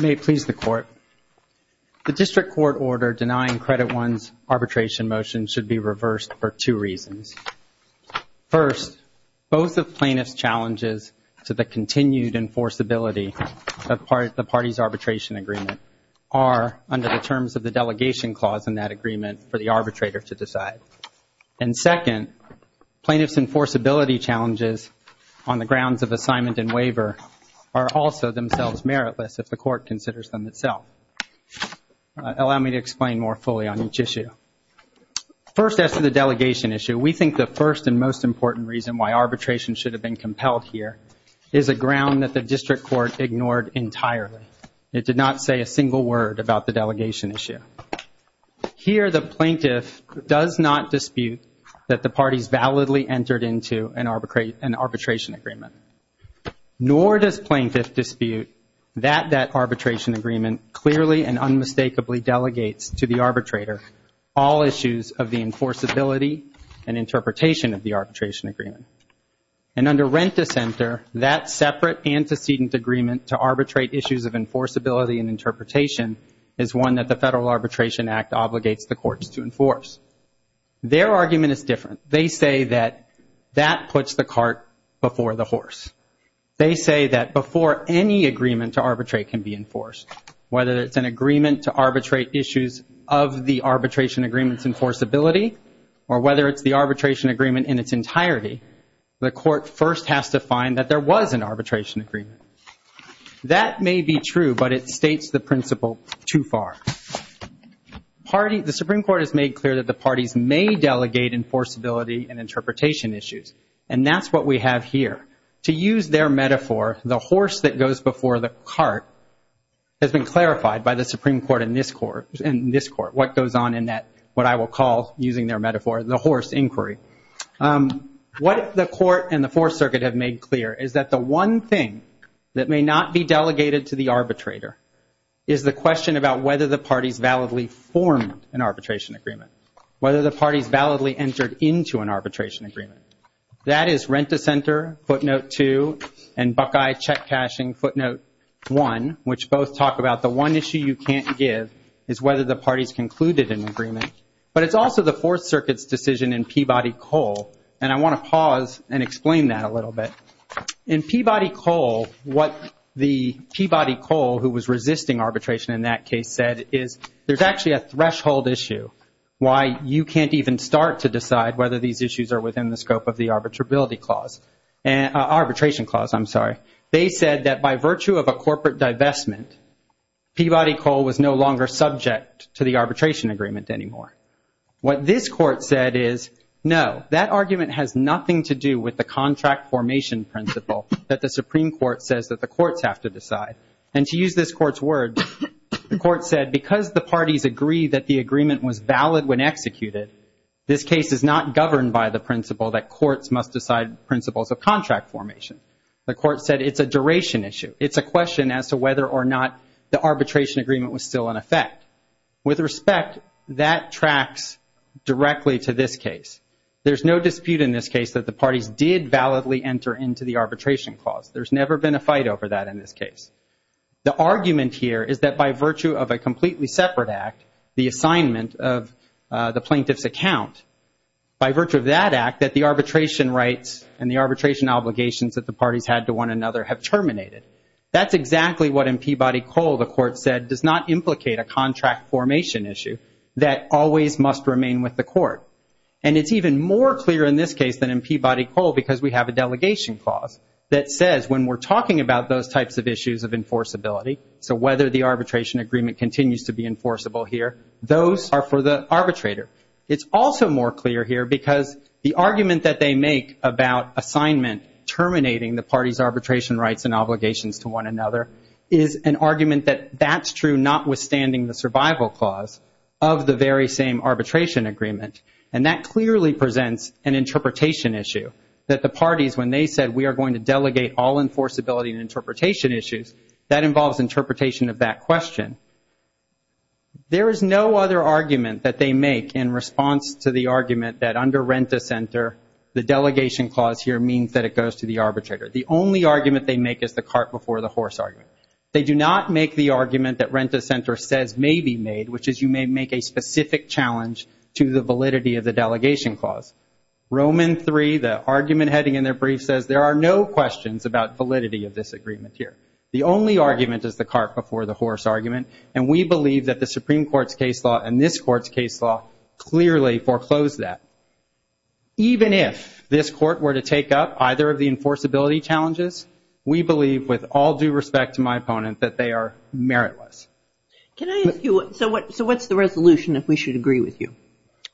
May it please the Court. The District Court order denying Credit One's arbitration motion should be reversed for two reasons. First, both of plaintiff's challenges to the continued enforceability of the party's arbitration agreement are under the terms of the delegation clause in that agreement for the arbitrator to decide. And second, plaintiff's enforceability challenges on the grounds of assignment and waiver are also themselves meritless if the court considers them itself. Allow me to explain more fully on each issue. First, as to the delegation issue, we think the first and most important reason why arbitration should have been compelled here is a ground that the District Court ignored entirely. It did not say a single word about the delegation issue. Here, the plaintiff does not dispute that the parties validly entered into an arbitration agreement. Nor does plaintiff dispute that that arbitration agreement clearly and unmistakably delegates to the arbitrator all issues of the enforceability and interpretation of the arbitration agreement. And under Rent-a-Center, that separate antecedent agreement to arbitrate issues of enforceability and interpretation is one that the Federal Courts do not agree with. They say that that puts the cart before the horse. They say that before any agreement to arbitrate can be enforced, whether it's an agreement to arbitrate issues of the arbitration agreement's enforceability or whether it's the arbitration agreement in its entirety, the court first has to find that there was an arbitration agreement. That may be true, but it states the principle too far. The Supreme Court has made clear that the parties may delegate enforceability and interpretation issues. And that's what we have here. To use their metaphor, the horse that goes before the cart has been clarified by the Supreme Court in this court, what goes on in that, what I will call, using their metaphor, the horse inquiry. What the court and the Fourth Circuit have made clear is that the one thing that may not be delegated to the arbitrator is the question about whether the parties validly formed an arbitration agreement, whether the parties validly entered into an arbitration agreement. That is Rent-A-Center, footnote two, and Buckeye Check-Cashing, footnote one, which both talk about the one issue you can't give is whether the parties concluded an agreement. But it's also the Fourth Circuit's decision in Peabody-Cole, and I want to pause and explain that a little bit. In Peabody-Cole, what the Peabody-Cole, who was resisting arbitration in that case, said is there's actually a threshold issue why you can't even start to decide whether these issues are within the scope of the arbitration clause. They said that by virtue of a corporate divestment, Peabody-Cole was no longer subject to the arbitration agreement anymore. What this court said is no, that argument has nothing to do with the contract formation principle that the Supreme Court says that the courts have to decide. And to use this court's word, the court said because the parties agree that the agreement was valid when executed, this case is not governed by the principle that courts must decide principles of contract formation. The court said it's a duration issue. It's a question as to whether or not the arbitration agreement was still in effect. With respect, that tracks directly to this arbitration clause. There's never been a fight over that in this case. The argument here is that by virtue of a completely separate act, the assignment of the plaintiff's account, by virtue of that act, that the arbitration rights and the arbitration obligations that the parties had to one another have terminated. That's exactly what in Peabody-Cole the court said does not implicate a contract formation issue that always must remain with the court. And it's even more clear in this case than in Peabody-Cole because we have a delegation clause that says when we're talking about those types of issues of enforceability, so whether the arbitration agreement continues to be enforceable here, those are for the arbitrator. It's also more clear here because the argument that they make about assignment terminating the parties' arbitration rights and obligations to one another is an argument that that's true notwithstanding the survival clause of the very same arbitration agreement. And that clearly presents an interpretation issue that the parties, when they said we are going to delegate all enforceability and interpretation issues, that involves interpretation of that question. There is no other argument that they make in response to the argument that under Renta Center, the delegation clause here means that it goes to the arbitrator. The only argument they make is the cart before the horse argument. They do not make the argument that Renta Center says may be made, which is you may make a specific challenge to the validity of the delegation clause. Roman III, the argument heading in their brief says there are no questions about validity of this agreement here. The only argument is the cart before the horse argument. And we believe that the Supreme Court's case law and this court's case law clearly foreclosed that. Even if this court were to take up either of the enforceability challenges, we believe with all due respect to my opponent that they are meritless. Can I ask you, so what's the resolution if we should agree with you?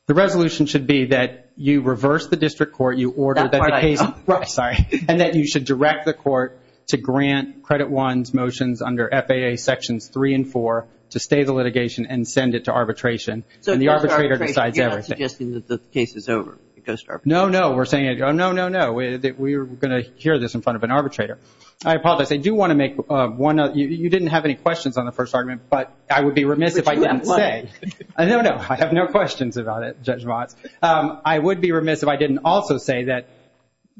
The resolution should be that you reverse the district court, you order the case, and that you should direct the court to grant Credit One's motions under FAA sections three and four to stay the litigation and send it to arbitration. And the arbitrator decides everything. So you're not suggesting that the case is over? No, no. We're saying no, no, no. We're going to hear this in front of an arbitrator. I apologize. I do want to make one note. You didn't have any questions on the first argument, but I would be remiss if I didn't say. No, no. I have no questions about it, Judge Watts. I would be remiss if I didn't also say that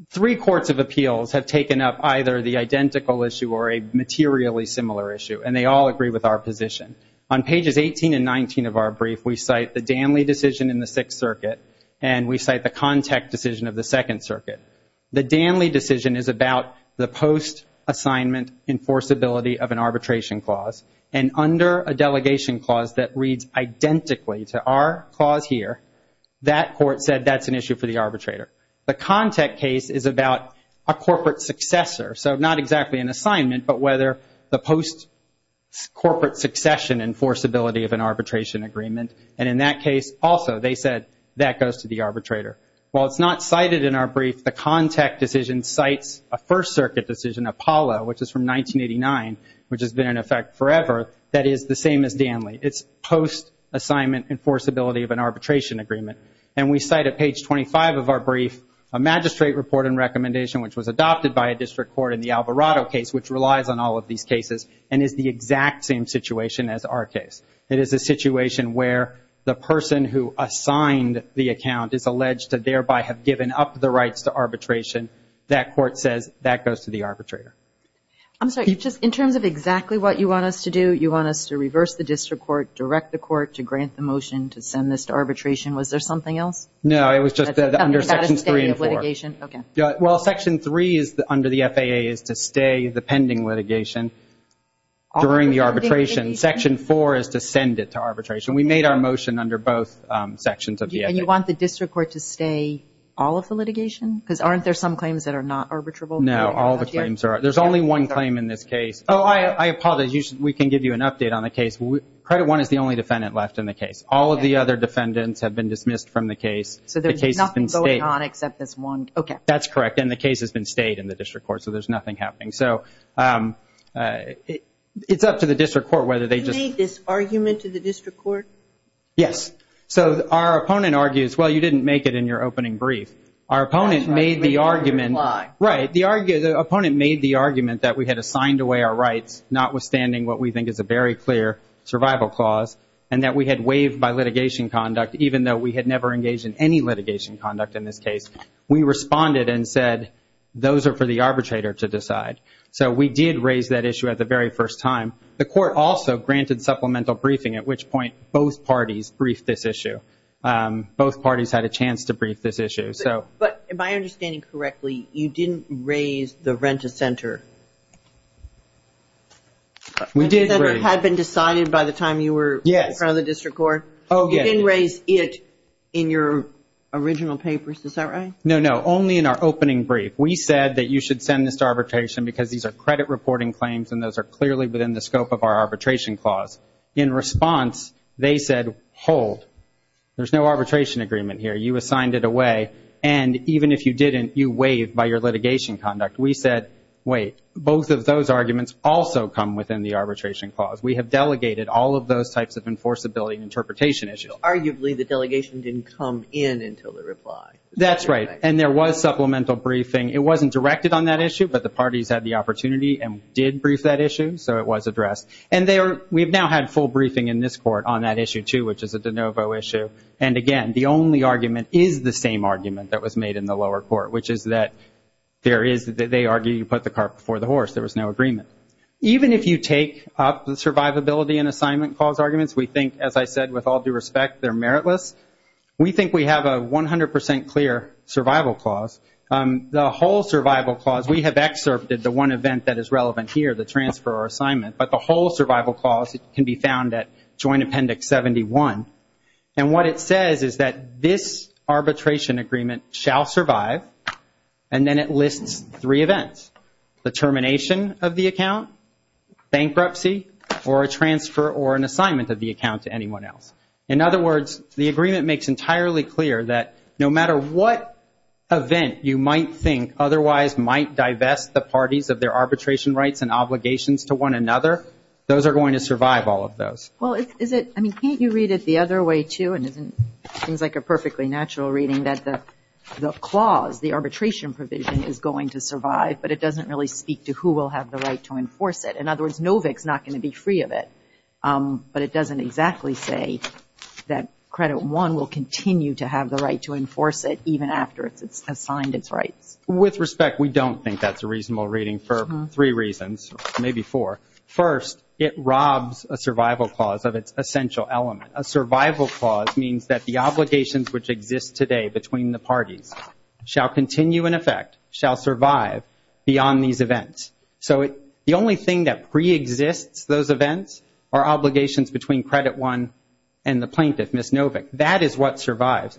three courts of appeals have taken up either the identical issue or a materially similar issue, and they all agree with our position. On pages 18 and 19 of our brief, we cite the Danley decision in the Sixth Circuit, and we cite the Kontek decision of the Second Circuit. The Danley decision is about the post-assignment enforceability of an arbitration clause, and under a delegation clause that reads identically to our clause here, that court said that's an issue for the arbitrator. The Kontek case is about a corporate successor, so not exactly an assignment, but whether the post-corporate succession enforceability of an arbitration agreement, and in that case also they said that goes to the arbitrator. While it's not cited in our brief, the Kontek decision cites a First Circuit decision, Apollo, which is from 1989, which has been in effect forever, that is the same as Danley. It's post-assignment enforceability of an arbitration agreement, and we cite at page 25 of our brief a magistrate report and recommendation which was adopted by a district court in the Alvarado case, which relies on all of these cases, and is the exact same situation as our case. It is a situation where the person who assigned the account is alleged to thereby have given up the rights to arbitration. That court says that goes to the arbitrator. I'm sorry, just in terms of exactly what you want us to do, you want us to reverse the district court, direct the court to grant the motion to send this to arbitration. Was there something else? No, it was just under Sections 3 and 4. Under the status of litigation, okay. Well, Section 3 under the FAA is to stay the pending litigation during the arbitration. Section 4 is to send it to arbitration. We made our motion under both sections of the FAA. And you want the district court to stay all of the litigation? Because aren't there some claims that are not arbitrable? No, all the claims are. There's only one claim in this case. Oh, I apologize. We can give you an update on the case. Credit I is the only defendant left in the case. All of the other defendants have been dismissed from the case. The case has been stayed. I cannot accept this one. Okay. That's correct. And the case has been stayed in the district court, so there's nothing happening. So it's up to the district court whether they just... You made this argument to the district court? Yes. So our opponent argues, well, you didn't make it in your opening brief. Our opponent made the argument... That's right. We made it under the law. Right. The opponent made the argument that we had assigned away our rights, notwithstanding what we think is a very clear survival clause, and that we had waived by litigation conduct, even though we had never engaged in any litigation conduct in this case. We responded and said, those are for the arbitrator to decide. So we did raise that issue at the very first time. The court also granted supplemental briefing, at which point both parties briefed this issue. Both parties had a chance to brief this issue. But if I understand correctly, you didn't raise the rent-a-center. We did raise... Rent-a-center had been decided by the time you were... Yes. ...in front of the district court. Oh, yes. You didn't raise it in your original papers. Is that right? No, no. Only in our opening brief. We said that you should send this to arbitration because these are credit reporting claims, and those are clearly within the scope of our arbitration clause. In response, they said, hold. There's no arbitration agreement here. You assigned it away, and even if you didn't, you waived by your litigation conduct. We said, wait. Both of those arguments also come within the arbitration clause. We have delegated all of those types of enforceability and interpretation issues. Arguably, the delegation didn't come in until the reply. That's right, and there was supplemental briefing. It wasn't directed on that issue, but the parties had the opportunity and did brief that issue, so it was addressed. We've now had full briefing in this court on that issue, too, which is a de novo issue. Again, the only argument is the same argument that was made in the lower court, which is that they argued you put the cart before the horse. There was no agreement. Even if you take up the survivability and assignment clause arguments, we think, as I said, with all due respect, they're meritless. We think we have a 100% clear survival clause. The whole survival clause, we have excerpted the one event that is relevant here, the transfer or assignment, but the whole survival clause can be found at Joint Appendix 71, and what it says is that this arbitration agreement shall survive, and then it lists three events, the termination of the account, bankruptcy, or a transfer or an assignment of the account to anyone else. In other words, the agreement makes entirely clear that no matter what event you might think otherwise might divest the parties of their arbitration rights and obligations to one another, those are going to survive, all of those. Well, is it, I mean, can't you read it the other way, too, and isn't, seems like a perfectly natural reading that the clause, the arbitration provision is going to survive, but it doesn't really speak to who will have the right to enforce it. In other words, Novick's not going to be free of it, but it doesn't exactly say that Credit One will continue to have the right to enforce it even after it's assigned its rights. With respect, we don't think that's a reasonable reading for three reasons, maybe four. First, it robs a survival clause of its essential element. A survival clause means that the obligations that exist today between the parties shall continue in effect, shall survive beyond these events. So the only thing that preexists those events are obligations between Credit One and the plaintiff, Ms. Novick. That is what survives.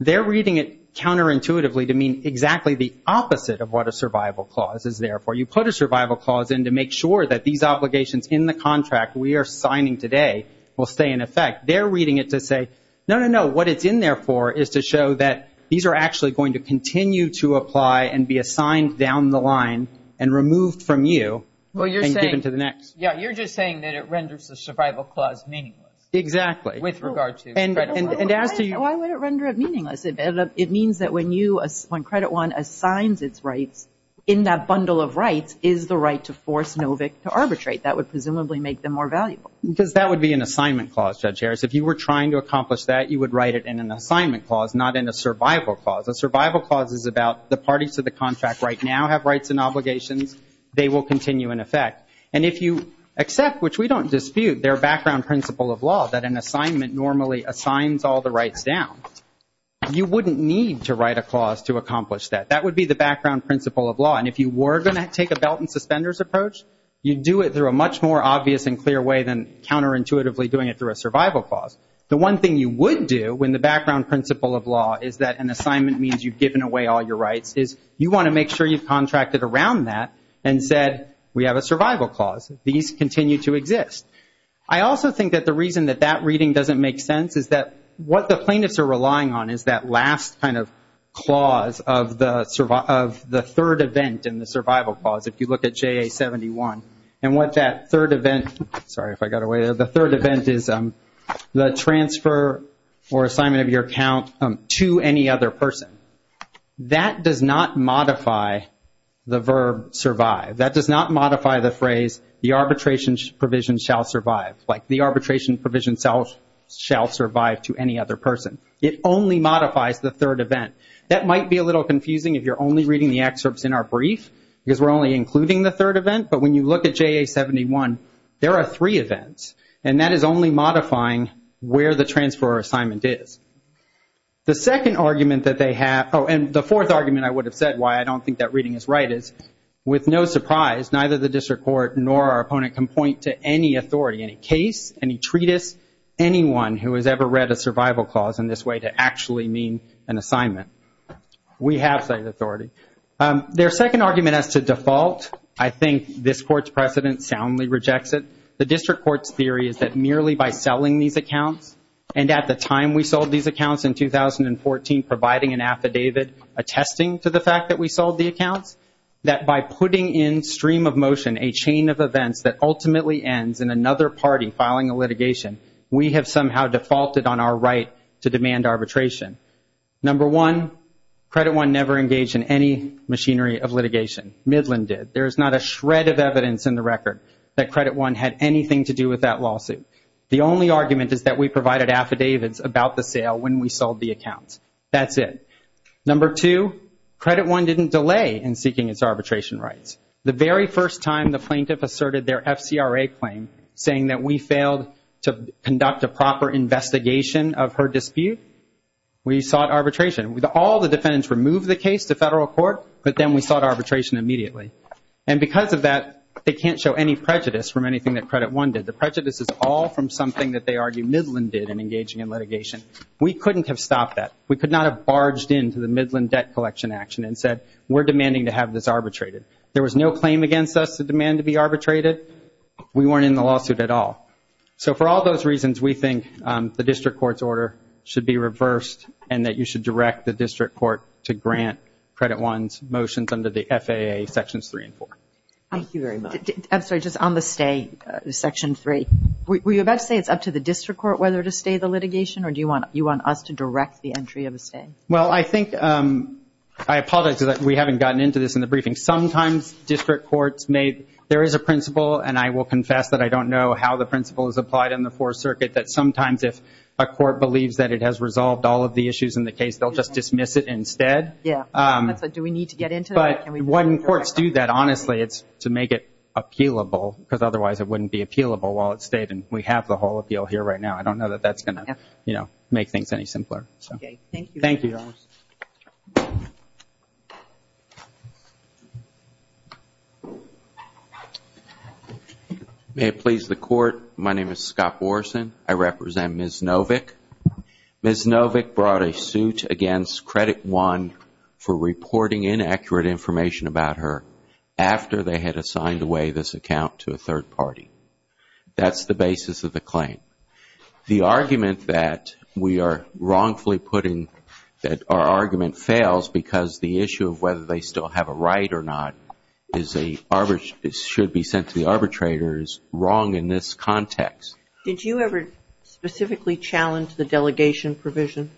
They're reading it counterintuitively to mean exactly the opposite of what a survival clause is there for. You put a survival clause in to make sure that these obligations in the contract we are signing today will stay in effect. They're reading it to say, no, no, what it's in there for is to show that these are actually going to continue to apply and be assigned down the line and removed from you and given to the next. Yeah, you're just saying that it renders the survival clause meaningless. Exactly. With regard to Credit One. And as to you- Why would it render it meaningless? It means that when Credit One assigns its rights, in that bundle of rights is the right to force Novick to arbitrate. That would presumably make them more valuable. Because that would be an assignment clause, Judge Harris. If you were trying to accomplish that, you would write it in an assignment clause, not in a survival clause. A survival clause is about the parties to the contract right now have rights and obligations. They will continue in effect. And if you accept, which we don't dispute, their background principle of law, that an assignment normally assigns all the rights down, you wouldn't need to write a clause to accomplish that. That would be the background principle of law. And if you were going to take a belt and suspenders approach, you'd do it through a much more obvious and clear way than counterintuitively doing it through a survival clause. The one thing you would do when the background principle of law is that an assignment means you've given away all your rights, is you want to make sure you've contracted around that and said, we have a survival clause. These continue to exist. I also think that the reason that that reading doesn't make sense is that what the plaintiffs are relying on is that last kind of clause of the third event in the survival clause, if you look at JA-71. And what that third event- Sorry, if I got away there. The third or assignment of your account to any other person, that does not modify the verb survive. That does not modify the phrase, the arbitration provision shall survive. Like the arbitration provision shall survive to any other person. It only modifies the third event. That might be a little confusing if you're only reading the excerpts in our brief, because we're only including the third event. But when you look at JA-71, there are three events. And that is only modifying where the transfer or assignment is. The second argument that they have- Oh, and the fourth argument I would have said why I don't think that reading is right is, with no surprise, neither the district court nor our opponent can point to any authority, any case, any treatise, anyone who has ever read a survival clause in this way to actually mean an assignment. We have such authority. Their second argument as to default, I think this court's precedent soundly rejects it. The district court's theory is that merely by selling these accounts, and at the time we sold these accounts in 2014 providing an affidavit attesting to the fact that we sold the accounts, that by putting in stream of motion a chain of events that ultimately ends in another party filing a litigation, we have somehow defaulted on our right to demand arbitration. Number one, Credit One never engaged in any machinery of litigation. Midland did. There had anything to do with that lawsuit. The only argument is that we provided affidavits about the sale when we sold the accounts. That's it. Number two, Credit One didn't delay in seeking its arbitration rights. The very first time the plaintiff asserted their FCRA claim saying that we failed to conduct a proper investigation of her dispute, we sought arbitration. All the defendants removed the case to federal court, but then we sought arbitration immediately. And because of that, they can't show any prejudice from anything that Credit One did. The prejudice is all from something that they argue Midland did in engaging in litigation. We couldn't have stopped that. We could not have barged into the Midland debt collection action and said, we're demanding to have this arbitrated. There was no claim against us to demand to be arbitrated. We weren't in the lawsuit at all. So for all those reasons, we think the district court's order should be reversed and that you should direct the district court to grant Credit One's motions under the FAA Sections 3 and 4. Thank you very much. I'm sorry, just on the stay, Section 3. Were you about to say it's up to the district court whether to stay the litigation, or do you want us to direct the entry of a stay? Well, I think, I apologize that we haven't gotten into this in the briefing. Sometimes district courts may, there is a principle, and I will confess that I don't know how the principle is applied in the Fourth Circuit, that sometimes if a court believes that it has resolved all of the issues in the case, they'll just dismiss it instead. Yeah, that's right. Do we need to get into that? When courts do that, honestly, it's to make it appealable, because otherwise it wouldn't be appealable while it stayed, and we have the whole appeal here right now. I don't know that that's going to make things any simpler. Okay, thank you. Thank you. May it please the Court, my name is Scott Morrison. I represent Ms. Novick. Ms. Novick brought a suit against Credit One for reporting inaccurate information about her after they had assigned away this account to a third party. That's the basis of the claim. The argument that we are wrongfully putting, that our argument fails because the issue of whether they still have a right or not is a, should be sent to the arbitrator is wrong in this context. Did you ever specifically challenge the delegation provision?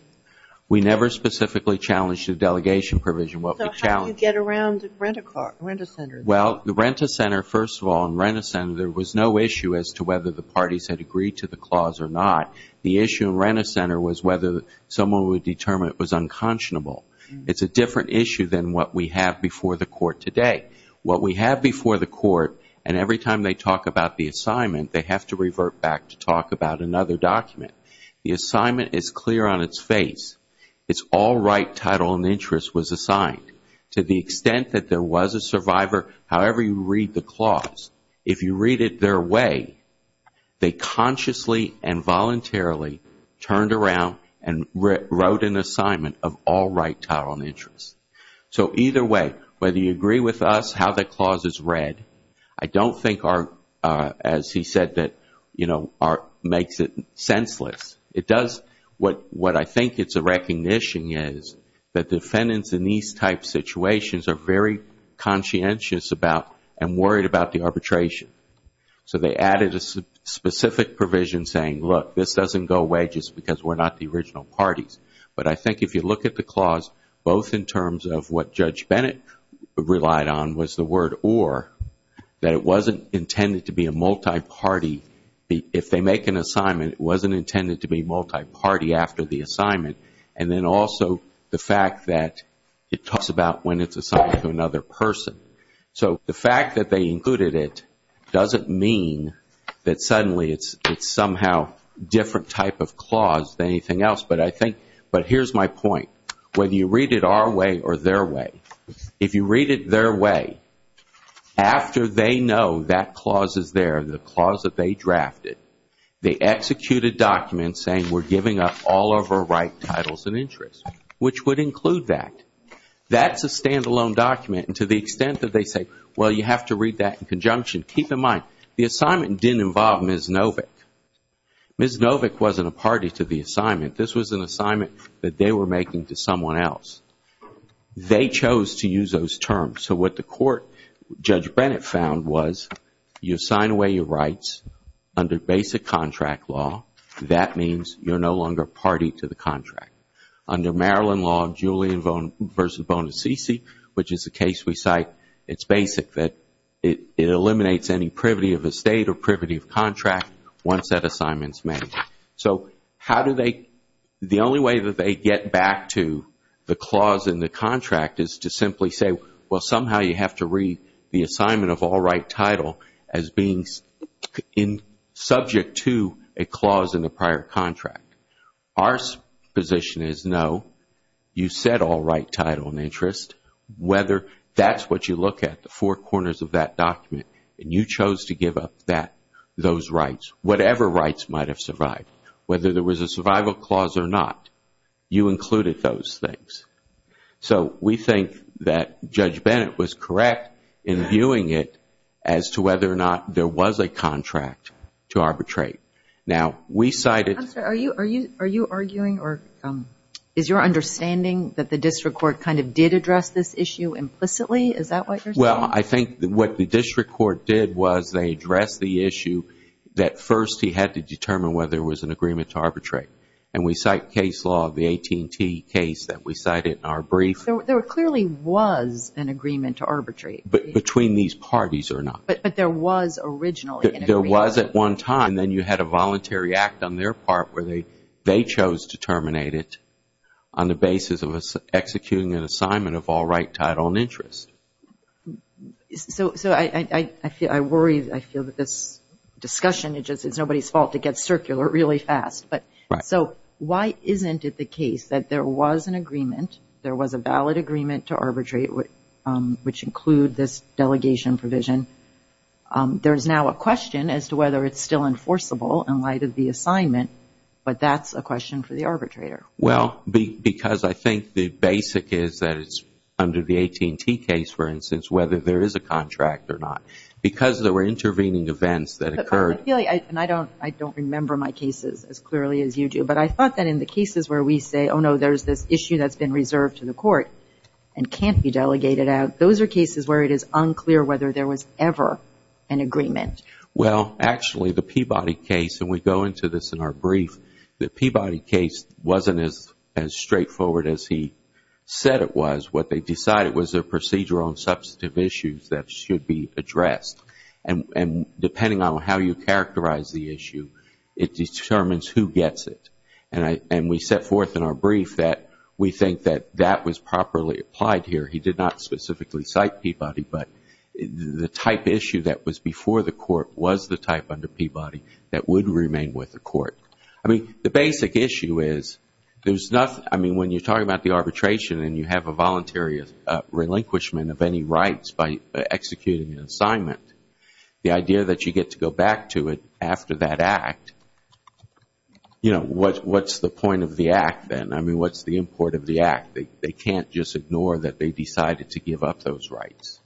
We never specifically challenged the delegation provision. What we challenged So how do you get around the Rent-A-Center? Well, the Rent-A-Center, first of all, in Rent-A-Center there was no issue as to whether the parties had agreed to the clause or not. The issue in Rent-A-Center was whether someone would determine it was unconscionable. It's a different issue than what we have before the court today. What we have before the court, and every time they talk about the assignment, they have to revert back to talk about another document. The assignment is clear on its face. It's all right title and interest was assigned. To the extent that there was a survivor, however you read the clause, if you read it their way, they consciously and voluntarily turned around and wrote an assignment of all right title and interest. Either way, whether you agree with us how the clause is read, I don't think, as he said, that makes it senseless. What I think it's a recognition is that defendants in these type situations are very conscientious about and worried about the arbitration. So they added a specific provision saying, look, this doesn't go away just because we're not the Bennett relied on was the word or, that it wasn't intended to be a multi-party. If they make an assignment, it wasn't intended to be multi-party after the assignment. And then also the fact that it talks about when it's assigned to another person. So the fact that they included it doesn't mean that suddenly it's somehow different type of clause than anything else. But here's my point. Whether you read it our way or their way, if you read it their way, after they know that clause is there, the clause that they drafted, they execute a document saying we're giving up all of our right titles and interests, which would include that. That's a standalone document. And to the extent that they say, well, you have to read that in conjunction, keep in mind, the assignment didn't involve Ms. Novick. Ms. Novick wasn't a party to the assignment. This was an assignment that they were making to someone else. They chose to use those terms. So what the court, Judge Bennett, found was you assign away your rights under basic contract law. That means you're no longer a party to the contract. Under Maryland law, Julian v. Bonacici, which is a case we cite, it's basic that it eliminates any privity of estate or privity of contract once that assignment is made. So how do they, the only way that they get back to the clause in the contract is to simply say, well, somehow you have to read the assignment of all right title as being subject to a clause in the prior contract. Our position is no. You said all right title and interest. Whether that's what you look at, the four corners of that document, and you chose to give up that, those rights, whatever rights might have survived, whether there was a survival clause or not, you included those things. So we think that Judge Bennett was correct in viewing it as to whether or not there was a contract to arbitrate. Now, we cited I'm sorry. Are you arguing or is your understanding that the district court kind of did address this issue implicitly? Is that what you're saying? Well, I think what the district court did was they addressed the issue that first he had to determine whether there was an agreement to arbitrate. And we cite case law of the AT&T case that we cited in our brief. There clearly was an agreement to arbitrate. Between these parties or not. But there was at one time. Then you had a voluntary act on their part where they chose to terminate it on the basis of executing an assignment of all right title and interest. So I worry, I feel that this discussion, it's nobody's fault. It gets circular really fast. So why isn't it the case that there was an agreement, there was a valid agreement to arbitrate. There's now a question as to whether it's still enforceable in light of the assignment. But that's a question for the arbitrator. Well, because I think the basic is that it's under the AT&T case, for instance, whether there is a contract or not. Because there were intervening events that occurred. And I don't remember my cases as clearly as you do. But I thought that in the cases where we say, oh, no, there's this issue that's been reserved to the court and can't be delegated out, those are cases where it is unclear whether there was ever an agreement. Well, actually, the Peabody case, and we go into this in our brief, the Peabody case wasn't as straightforward as he said it was. What they decided was their procedural and substantive issues that should be addressed. And depending on how you characterize the issue, it determines who gets it. And we set forth in our brief that we think that that was properly applied here. He did not specifically cite Peabody, but the type issue that was before the court was the type under Peabody that would remain with the court. I mean, the basic issue is there's nothing, I mean, when you're talking about the arbitration and you have a voluntary relinquishment of any rights by executing an assignment, the idea that you get to go back to it after that act, you know, what's the point of the act then? I mean, what's the import of the act? They can't just ignore that they decided to give up those rights.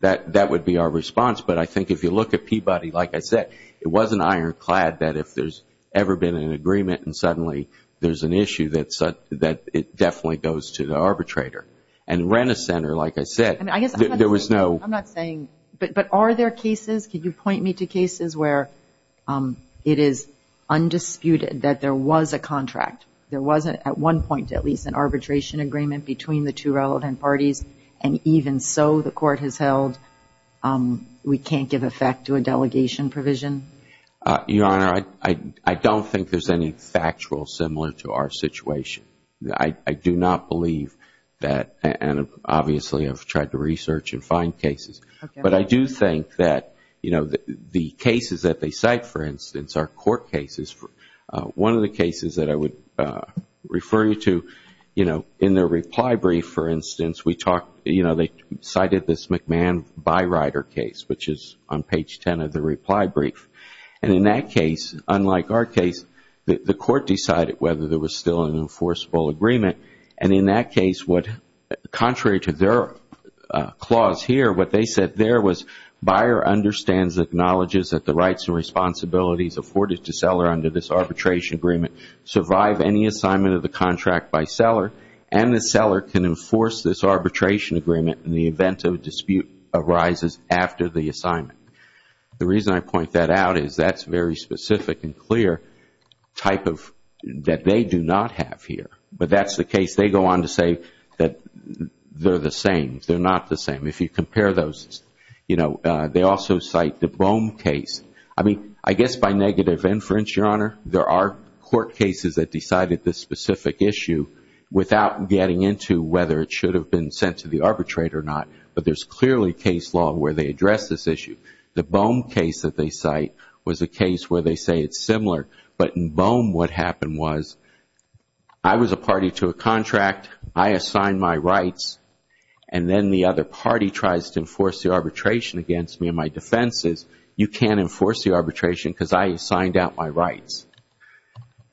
That would be our response, but I think if you look at Peabody, like I said, it wasn't ironclad that if there's ever been an agreement and suddenly there's an issue that it definitely goes to the arbitrator. And Renner Center, like I said, there was no... I'm not saying, but are there cases, can you point me to cases where it is undisputed that there was a at one point at least an arbitration agreement between the two relevant parties and even so the court has held we can't give effect to a delegation provision? Your Honor, I don't think there's any factual similar to our situation. I do not believe that, and obviously I've tried to research and find cases, but I do think that, you know, the cases that they cite, for instance, are court cases. One of the cases that I would refer you to, you know, in their reply brief, for instance, they cited this McMahon-Byrider case, which is on page 10 of the reply brief. And in that case, unlike our case, the court decided whether there was still an enforceable agreement. And in that case, contrary to their clause here, what they said there was, the rights and responsibilities afforded to seller under this arbitration agreement survive any assignment of the contract by seller, and the seller can enforce this arbitration agreement in the event of a dispute arises after the assignment. The reason I point that out is that's very specific and clear type of... that they do not have here. But that's the case. They go on to say that they're the same. They're not the same. If you compare those, you know, they also cite the Boehm case. I mean, I guess by negative inference, Your Honor, there are court cases that decided this specific issue without getting into whether it should have been sent to the arbitrator or not, but there's clearly case law where they address this issue. The Boehm case that they cite was a case where they say it's similar, but in Boehm what happened was, I was a party to a contract, I assigned my rights, and then the other party tries to enforce the arbitration against me and my defenses. You can't enforce the arbitration because I assigned out my rights.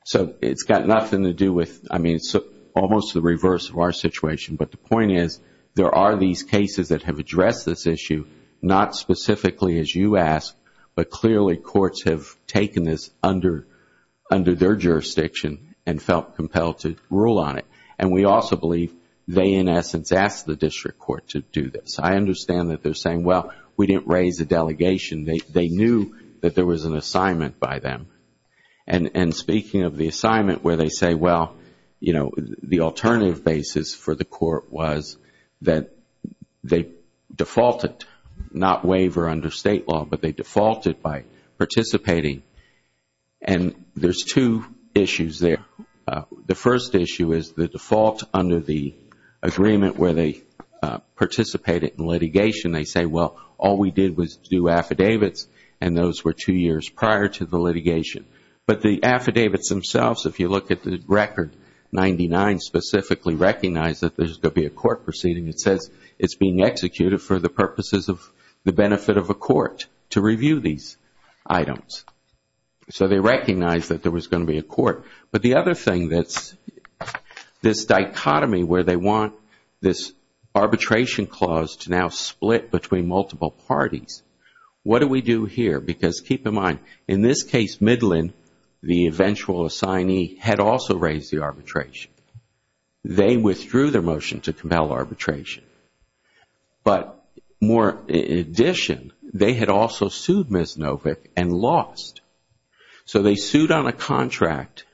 So it's got nothing to do with... I mean, it's almost the reverse of our situation. But the point is, there are these cases that have addressed this issue, not specifically as you ask, but clearly courts have taken this under their jurisdiction and felt compelled to rule on it. And we also believe they, in essence, asked the district court to do this. I understand that they're saying, well, we didn't raise a delegation. They knew that there was an assignment by them. And speaking of the assignment where they say, well, you know, the alternative basis for the court was that they defaulted, not waiver under state law, but they defaulted by participating. And there's two issues there. The first issue is the default under the agreement where they participated in litigation. They say, well, all we did was do affidavits, and those were two years prior to the litigation. But the affidavits themselves, if you look at the record, 99 specifically recognized that there's going to be a court proceeding. It says it's being executed for the purposes of the benefit of a court to review these items. So they recognized that there was going to be a court. But the other thing that's this dichotomy where they want this arbitration clause to now split between multiple parties, what do we do here? Because keep in mind, in this case, Midland, the eventual assignee, had also raised the arbitration. They withdrew their motion to compel arbitration. But in addition, they had also sued Misnovic and lost. So they sued on a contract.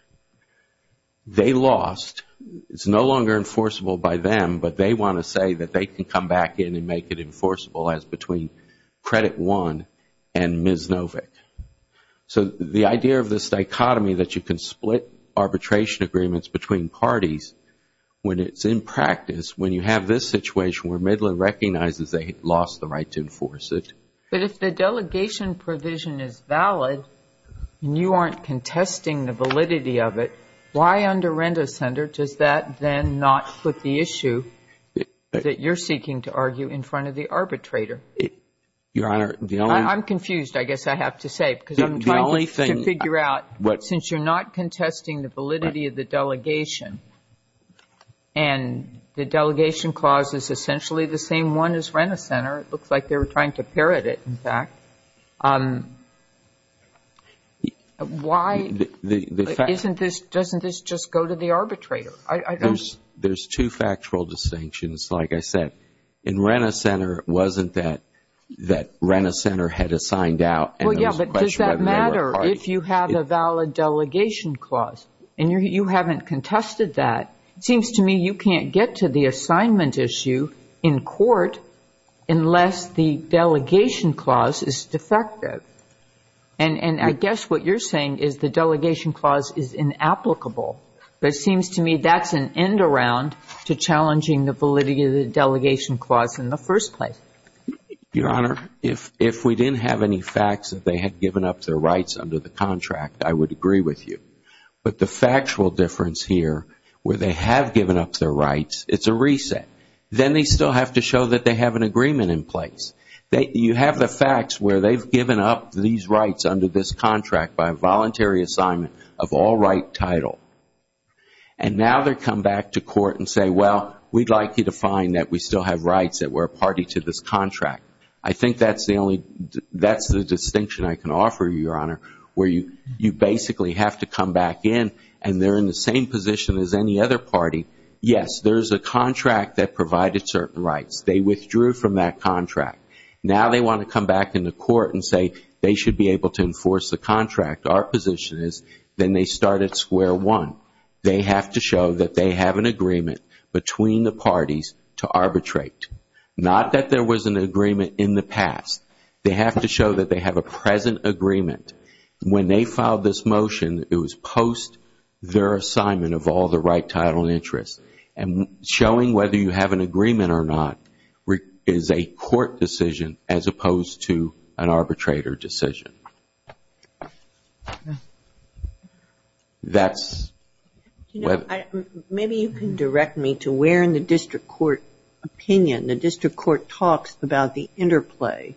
They lost. It's no longer enforceable by them, but they want to say that they can come back in and make it enforceable as between Credit One and Misnovic. So the idea of this dichotomy that you can split arbitration agreements between parties when it's in practice, when you have this situation where Midland recognizes they lost the right to enforce it. But if the delegation provision is valid and you aren't contesting the validity of it, why under Renda Center does that then not put the issue that you're seeking to argue in front of the arbitrator? I'm confused, I guess I have to say, because I'm trying to figure out, since you're not contesting the validity of the delegation and the delegation clause is essentially the same one as Renda Center, it looks like they were trying to parrot it, in fact, why doesn't this just go to the arbitrator? There's two factual distinctions, like I said. In Renda Center, it wasn't that Renda Center had it signed out. Well, yeah, but does that matter if you have a valid delegation clause? And you haven't contested that. It seems to me you can't get to the assignment issue in court unless the delegation clause is defective. And I guess what you're saying is the delegation clause is inapplicable. But it seems to me that's an end-around to challenging the validity of the delegation clause in the first place. Your Honor, if we didn't have any facts that they had given up their rights under the contract, I would agree with you. But the factual difference here, where they have given up their rights, it's a reset. Then they still have to show that they have an agreement in place. You have the facts where they've given up these rights under this contract by a voluntary assignment of all-right title. And now they come back to court and say, well, we'd like you to find that we still have rights, that we're a party to this contract. I think that's the distinction I can offer you, Your Honor, where you basically have to come back in and they're in the same position as any other party. Yes, there's a contract that provided certain rights. They withdrew from that contract. Now they want to come back into court and say they should be able to enforce the contract. Our position is then they start at square one. They have to show that they have an agreement between the parties to arbitrate. Not that there was an agreement in the past. They have to show that they have a present agreement. When they filed this motion, it was post their assignment of all the right title and interests. And showing whether you have an agreement or not is a court decision as opposed to an arbitrator decision. Maybe you can direct me to where in the district court opinion, the district court talks about the interplay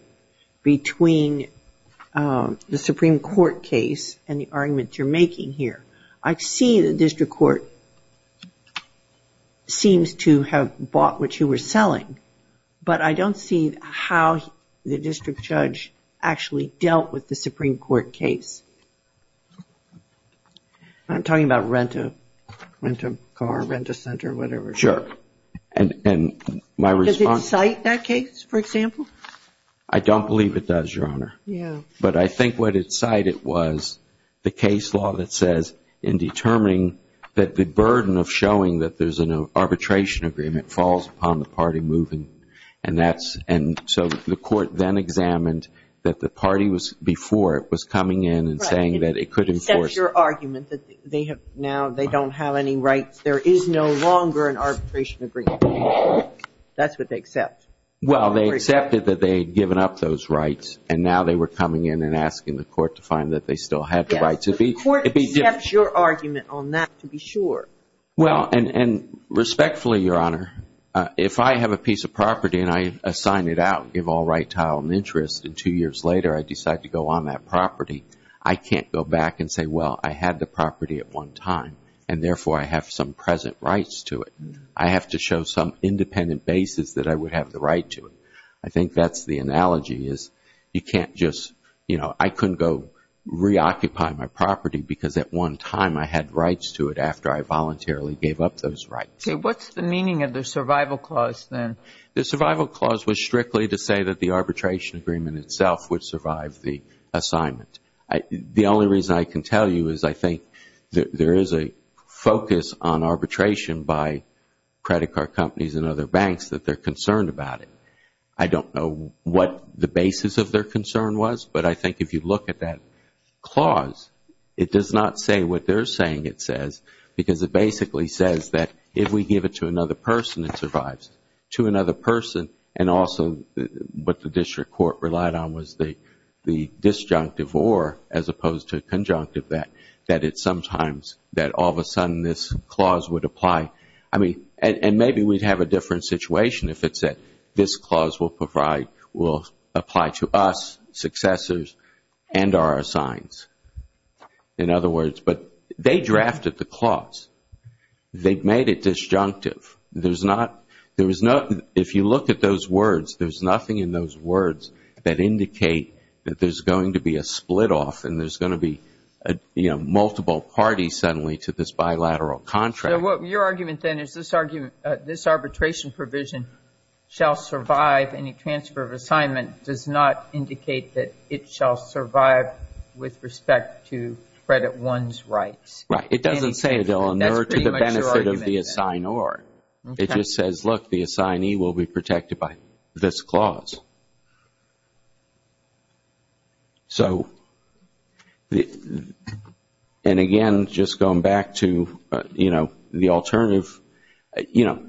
between the Supreme Court case and the arguments you're making here. I see the district court seems to have bought what you were selling. But I don't see how the district judge actually dealt with the Supreme Court case. I'm talking about rent a car, rent a center, whatever. Sure. And my response Does it cite that case, for example? I don't believe it does, Your Honor. But I think what it cited was the case law that says in determining that the burden of showing that there's an arbitration agreement falls upon the party moving. And that's and so the court then examined that the party was before it was coming in and saying that it could enforce Your argument that they have now they don't have any rights. There is no longer an arbitration agreement. That's what they accept. Well, they accepted that they'd given up those rights. And now they were coming in and asking the court to find that they still had the right to be. Well, and respectfully, Your Honor, if I have a piece of property and I assign it out, give all right, title and interest. And two years later, I decide to go on that property. I can't go back and say, well, I had the property at one time. And therefore, I have some present rights to it. I have to show some independent basis that I would have the right to it. I think that's the analogy is you can't just you know, I couldn't go reoccupy my property because at one time I had rights to it after I voluntarily gave up those rights. What's the meaning of the survival clause then? The survival clause was strictly to say that the arbitration agreement itself would survive the assignment. The only reason I can tell you is I think there is a focus on arbitration by credit card companies and other banks that they're concerned about it. I don't know what the basis of their concern was, but I think if you look at that clause, it does not say what they're saying it says because it basically says that if we give it to another person, it survives. To another person and also what the district court relied on was the disjunctive or as opposed to conjunctive that, that it's sometimes that all of a sudden this clause would apply. And maybe we'd have a different situation if it said this clause will apply to us, successors and our assigns. In other words, but they drafted the clause. They've made it disjunctive. There's not, if you look at those words, there's nothing in those words that indicate that there's going to be a split off and there's going to be, you know, multiple parties suddenly to this bilateral contract. So your argument then is this arbitration provision shall survive any transfer of assignment does not indicate that it shall survive with respect to the credit one's rights. Right. It doesn't say it will inure to the benefit of the assignor. It just says, look, the assignee will be protected by this clause. And again, just going back to, you know, the alternative, you know,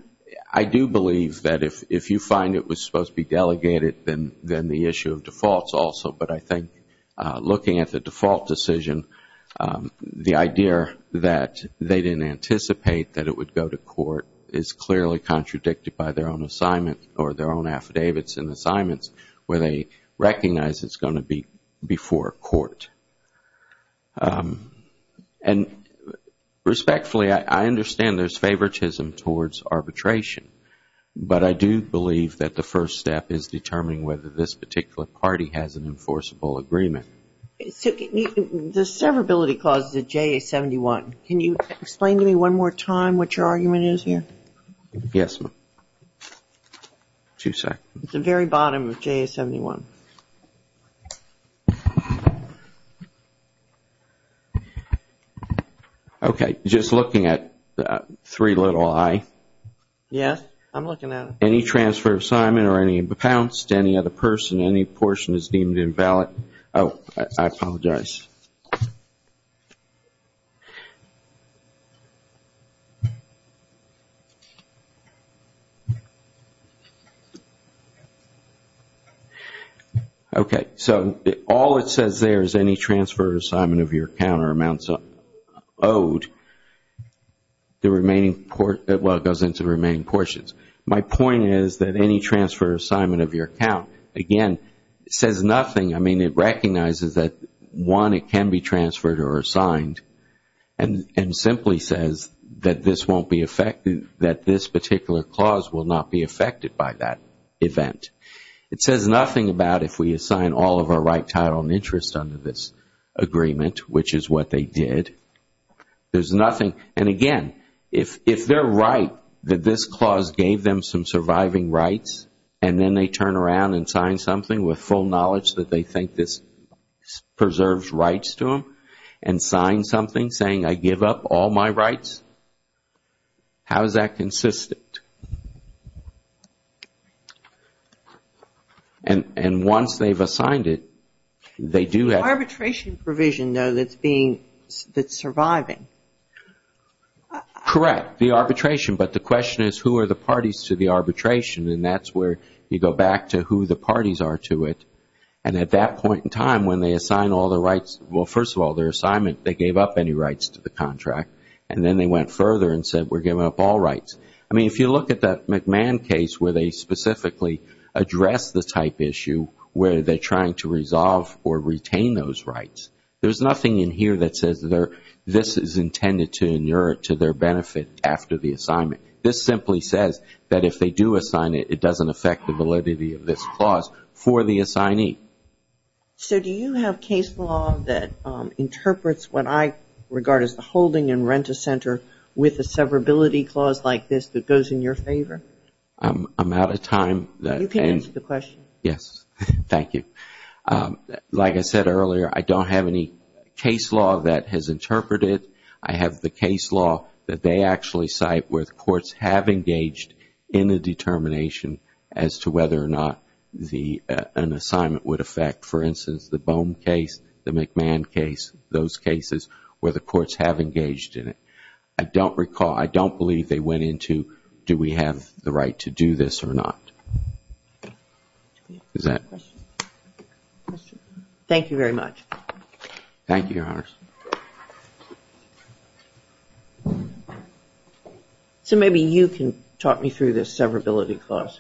I do believe that if you find it was supposed to be delegated, then the issue of defaults also, but I think looking at the default decision, the idea that they didn't anticipate that it would go to court is clearly contradicted by their own assignment or their own affidavits and assignments where they recognize it's going to be before court. And respectfully, I understand there's favoritism towards arbitration, but I do believe that the first step is determining whether this particular party has an enforceable agreement. The severability clause is at JA-71. Can you explain to me one more time what your argument is here? Yes, ma'am. Two seconds. It's the very bottom of JA-71. Okay. Just looking at three little I. Yes, I'm looking at it. Any transfer of assignment or any impounce to any other person, any portion is deemed invalid. Oh, I apologize. Okay, so all it says there is any transfer or assignment of your account or amounts owed. The remaining, well, it goes into the remaining portions. My point is that any transfer or assignment of your account, again, says nothing. I mean, it recognizes that one, it can be transferred or assigned and simply says that this won't be, that this particular clause will not be affected by that event. It says nothing about if we assign all of our right, title, and interest under this agreement, which is what they did. There's nothing, and again, if they're right that this clause gave them some surviving rights and then they turn around and sign something with full knowledge that they think this preserves rights to them and sign something saying I give up all my rights, how is that consistent? And once they've assigned it, they do have... Arbitration provision, though, that's being, that's surviving. Correct, the arbitration, but the question is who are the parties to the arbitration, and that's where you go back to who the parties are to it, and at that point in time when they assign all their rights, well, first of all, their assignment, they gave up any rights to the contract, and then they went further and said we're giving up all rights. I mean, if you look at that McMahon case where they specifically addressed the type issue where they're trying to resolve or retain those rights, there's nothing in here that says this is intended to and it doesn't affect the validity of this clause for the assignee. So do you have case law that interprets what I regard as the holding and rent-a-center with a severability clause like this that goes in your favor? I'm out of time. Like I said earlier, I don't have any case law that has interpreted. I have the case law that they actually cite where the courts have engaged in a determination as to whether or not an assignment would affect, for instance, the Bohm case, the McMahon case, those cases where the courts have engaged in it. I don't recall, I don't believe they went into do we have the right to do this or not. Thank you very much. Thank you, Your Honors. So maybe you can talk me through this severability clause.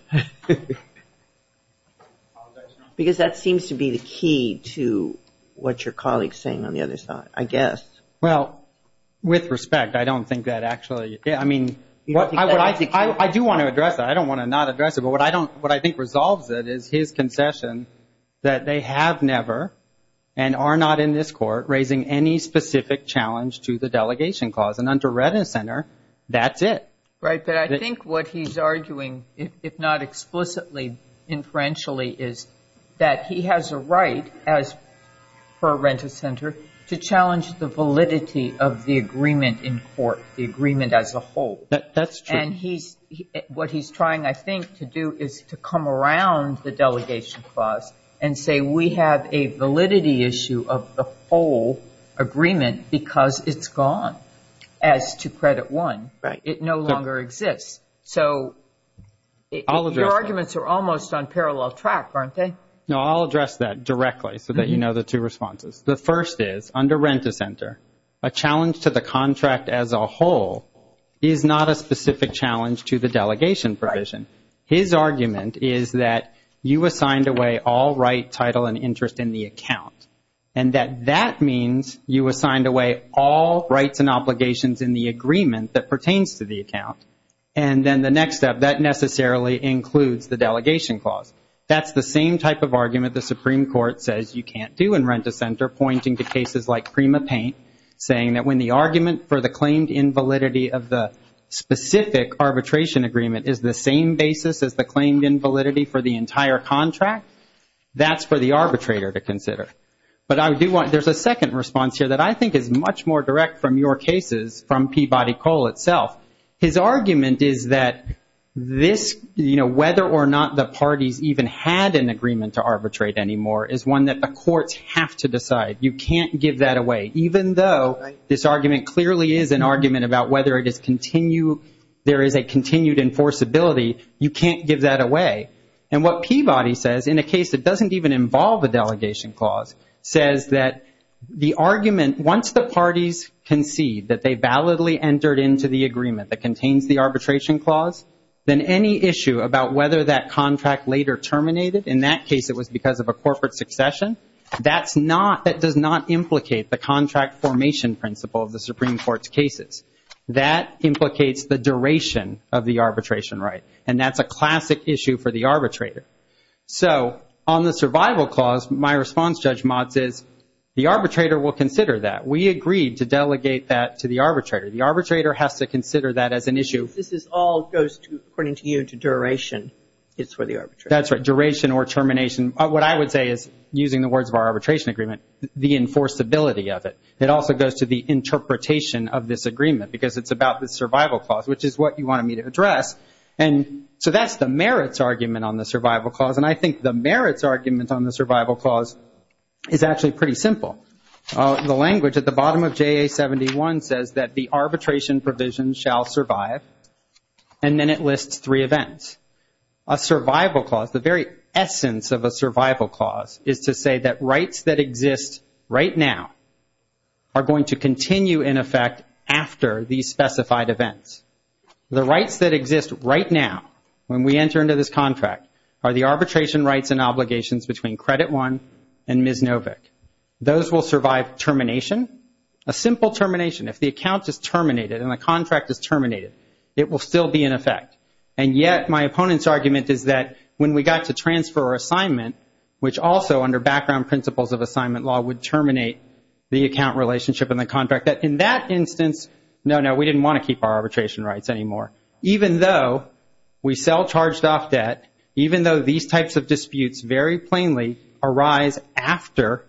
Because that seems to be the key to what your colleague is saying on the other side, I guess. Well, with respect, I don't think that actually, I mean, I do want to address that. I don't want to not address it, but what I think resolves it is his concession that they have never and are not in this court raising any specific challenge to the delegation clause. And under rent-a-center, that's it. Right, but I think what he's arguing, if not explicitly, inferentially, is that he has a right, as per rent-a-center, to challenge the validity of the agreement in court, the agreement as a whole. That's true. And what he's trying, I think, to do is to come around the delegation clause and say we have a validity issue of the whole agreement because it's gone as to credit one. It no longer exists. So your arguments are almost on parallel track, aren't they? No, I'll address that directly so that you know the two responses. The first is, under rent-a-center, a challenge to the contract as a whole is not a specific challenge to the delegation provision. His argument is that you assigned away all right, title, and interest in the account, and that that means you assigned away all rights and obligations in the agreement that pertains to the account. And then the next step, that necessarily includes the delegation clause. That's the same type of argument the Supreme Court says you can't do in rent-a-center, pointing to cases like PrimaPaint, saying that when the argument for the claimed invalidity of the specific arbitration agreement is the same basis as the claimed invalidity for the entire contract, that's for the arbitrator to consider. But I do want, there's a second response here that I think is much more direct from your cases from Peabody Cole itself. His argument is that this, you know, whether or not the parties even had an agreement to arbitrate anymore is one that the courts have to decide. You can't give that away. Even though this argument clearly is an argument about whether it is continue, there is a continued enforceability, you can't give that away. And what Peabody says, in a case that doesn't even involve a delegation clause, says that the argument, once the parties concede that they validly entered into the agreement that contains the arbitration clause, then any issue about whether that contract later terminated, in that case it was because of a corporate succession, that's not, that does not implicate the contract formation principle of the Supreme Court's cases. That implicates the duration of the arbitration right. And that's a classic issue for the arbitrator. So, on the survival clause, my response, Judge Motz, is the arbitrator will consider that. We agreed to delegate that to the arbitrator. The arbitrator has to consider that as an issue. This is all goes to, according to you, to duration. It's for the arbitrator. That's right. Duration or termination. What I would say is, using the words of our arbitration agreement, the enforceability of it. It also goes to the interpretation of this agreement because it's about the survival clause, which is what you wanted me to address. And so that's the merits argument on the survival clause. And I think the merits argument on the survival clause is actually pretty simple. The language at the bottom of JA 71 says that the arbitration provision shall survive. And then it lists three events. A survival clause, the very essence of a survival clause, is to say that rights that exist right now are going to continue in effect after these specified events. The rights that exist right now, when we enter into this contract, are the arbitration rights and obligations between Credit One and Ms. Novick. Those will survive termination. A simple termination. If the account is terminated and the contract is terminated, it will still be in effect. And yet, my opponent's argument is that when we got to transfer our assignment, which also under background principles of assignment law would terminate the account relationship and the contract, that in that instance, no, no, we didn't want to keep our arbitration rights anymore. Even though we sell charged-off debt, even though these types of disputes very plainly arise after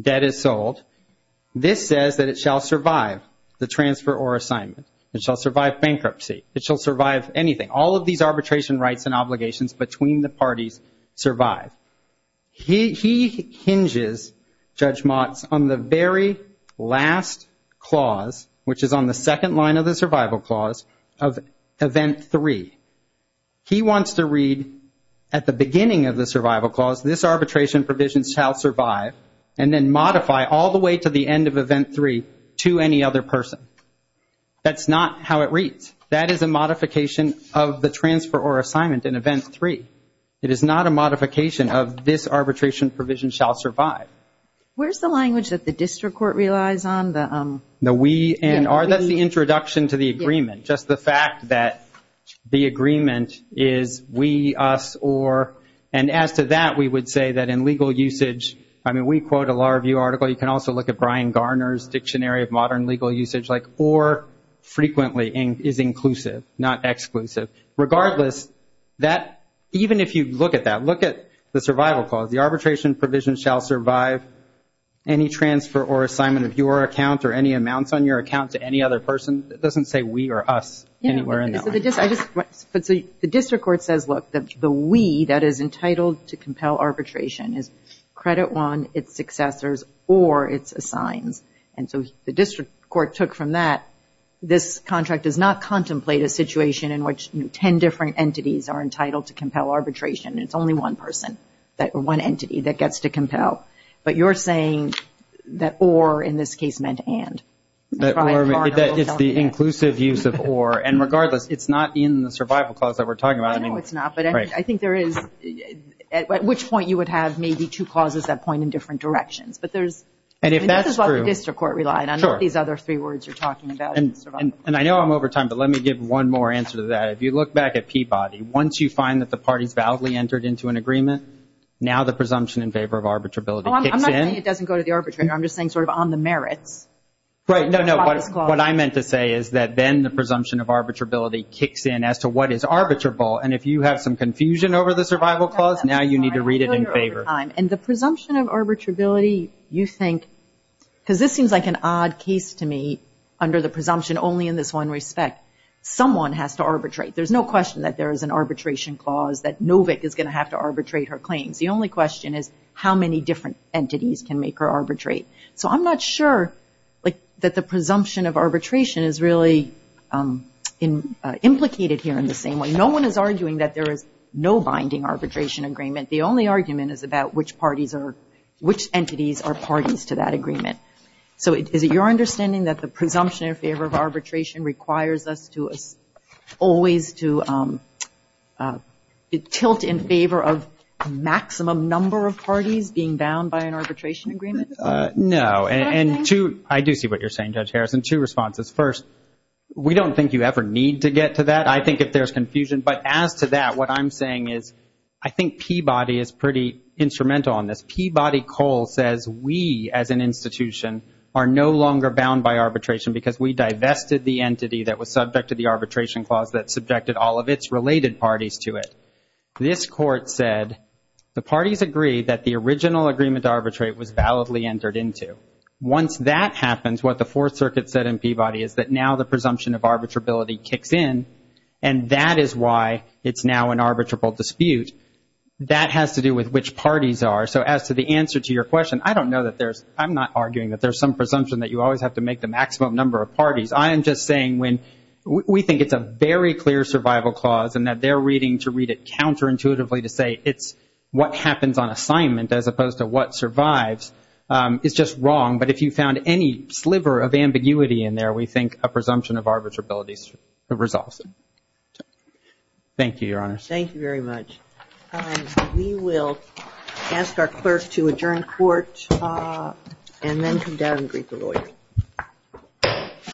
debt is sold, this says that it shall survive the transfer or assignment. It shall survive bankruptcy. It shall survive anything. All of these arbitration rights and obligations between the parties survive. He hinges, Judge Motz, on the very last clause, which is on the second line of the survival clause, of event three. He wants to read at the beginning of the survival clause, this arbitration provision shall survive, and then modify all the way to the end of event three to any other person. That's not how it reads. That is a modification of the transfer or assignment in event three. It is not a modification of this arbitration provision shall survive. Where's the language that the district court relies on? The we and our. That's the introduction to the agreement. Just the fact that the agreement is we, us, or, and as to that, we would say that in legal usage, I mean, we quote a Law Review article. You can also look at Brian Garner's Dictionary of Modern Legal Usage. Like, or frequently is inclusive, not exclusive. Regardless, even if you look at that, look at the survival clause. The arbitration provision shall survive any transfer or assignment of your account or any amounts on your account to any other person. It doesn't say we or us anywhere in that. So the district court says, look, the we that is entitled to compel arbitration is credit one, its successors, or its assigns. And so the district court took from that, this contract does not contemplate a situation in which 10 different entities are entitled to compel arbitration. It's only one person or one entity that gets to compel. But you're saying that or in this case meant and. It's the inclusive use of or. And regardless, it's not in the survival clause that we're talking about. I know it's not, but I think there is, at which point you would have maybe two clauses that point in different directions. But there's. And if that's true, district court relied on these other three words you're talking about. And I know I'm over time, but let me give one more answer to that. If you look back at Peabody, once you find that the parties validly entered into an agreement, now the presumption in favor of arbitrability. I'm not saying it doesn't go to the arbitrator. I'm just saying sort of on the merits. What I meant to say is that then the presumption of arbitrability kicks in as to what is arbitrable. And if you have some confusion over the survival clause, now you need to read it in favor. And the presumption of arbitrability, you think, because this seems like an odd case to me under the presumption only in this one respect. Someone has to arbitrate. There's no question that there is an arbitration clause that Novick is going to have to arbitrate her claims. The only question is how many different entities can make her arbitrate. So I'm not sure that the presumption of arbitration is really implicated here in the same way. No one is arguing that there is no binding arbitration agreement. The only argument is about which parties are, which entities are parties to that agreement. So is it your understanding that the presumption in favor of arbitration requires us to always to tilt in favor of maximum number of parties being bound by an arbitration agreement? No. And two, I do see what you're saying, Judge Harrison. Two responses. First, we don't think you ever need to get to that, I think, if there's confusion. But as to that, what I'm saying is I think Peabody is pretty instrumental on this. Peabody Cole says we as an institution are no longer bound by arbitration because we divested the entity that was subject to the arbitration clause that subjected all of its related parties to it. This court said the parties agreed that the original agreement to arbitrate was validly entered into. Once that happens, what the Fourth Circuit said in Peabody is that now the presumption of arbitrability kicks in, and that is why it's now an arbitrable dispute. That has to do with which parties are. So as to the answer to your question, I don't know that there's – I'm not arguing that there's some presumption that you always have to make the maximum number of parties. I am just saying when we think it's a very clear survival clause and that they're reading to read it counterintuitively to say it's what happens on assignment as opposed to what survives, it's just wrong. But if you found any sliver of ambiguity in there, we think a presumption of arbitrability resolves it. Thank you, Your Honor. Thank you very much. We will ask our clerk to adjourn court and then come down and greet the lawyer.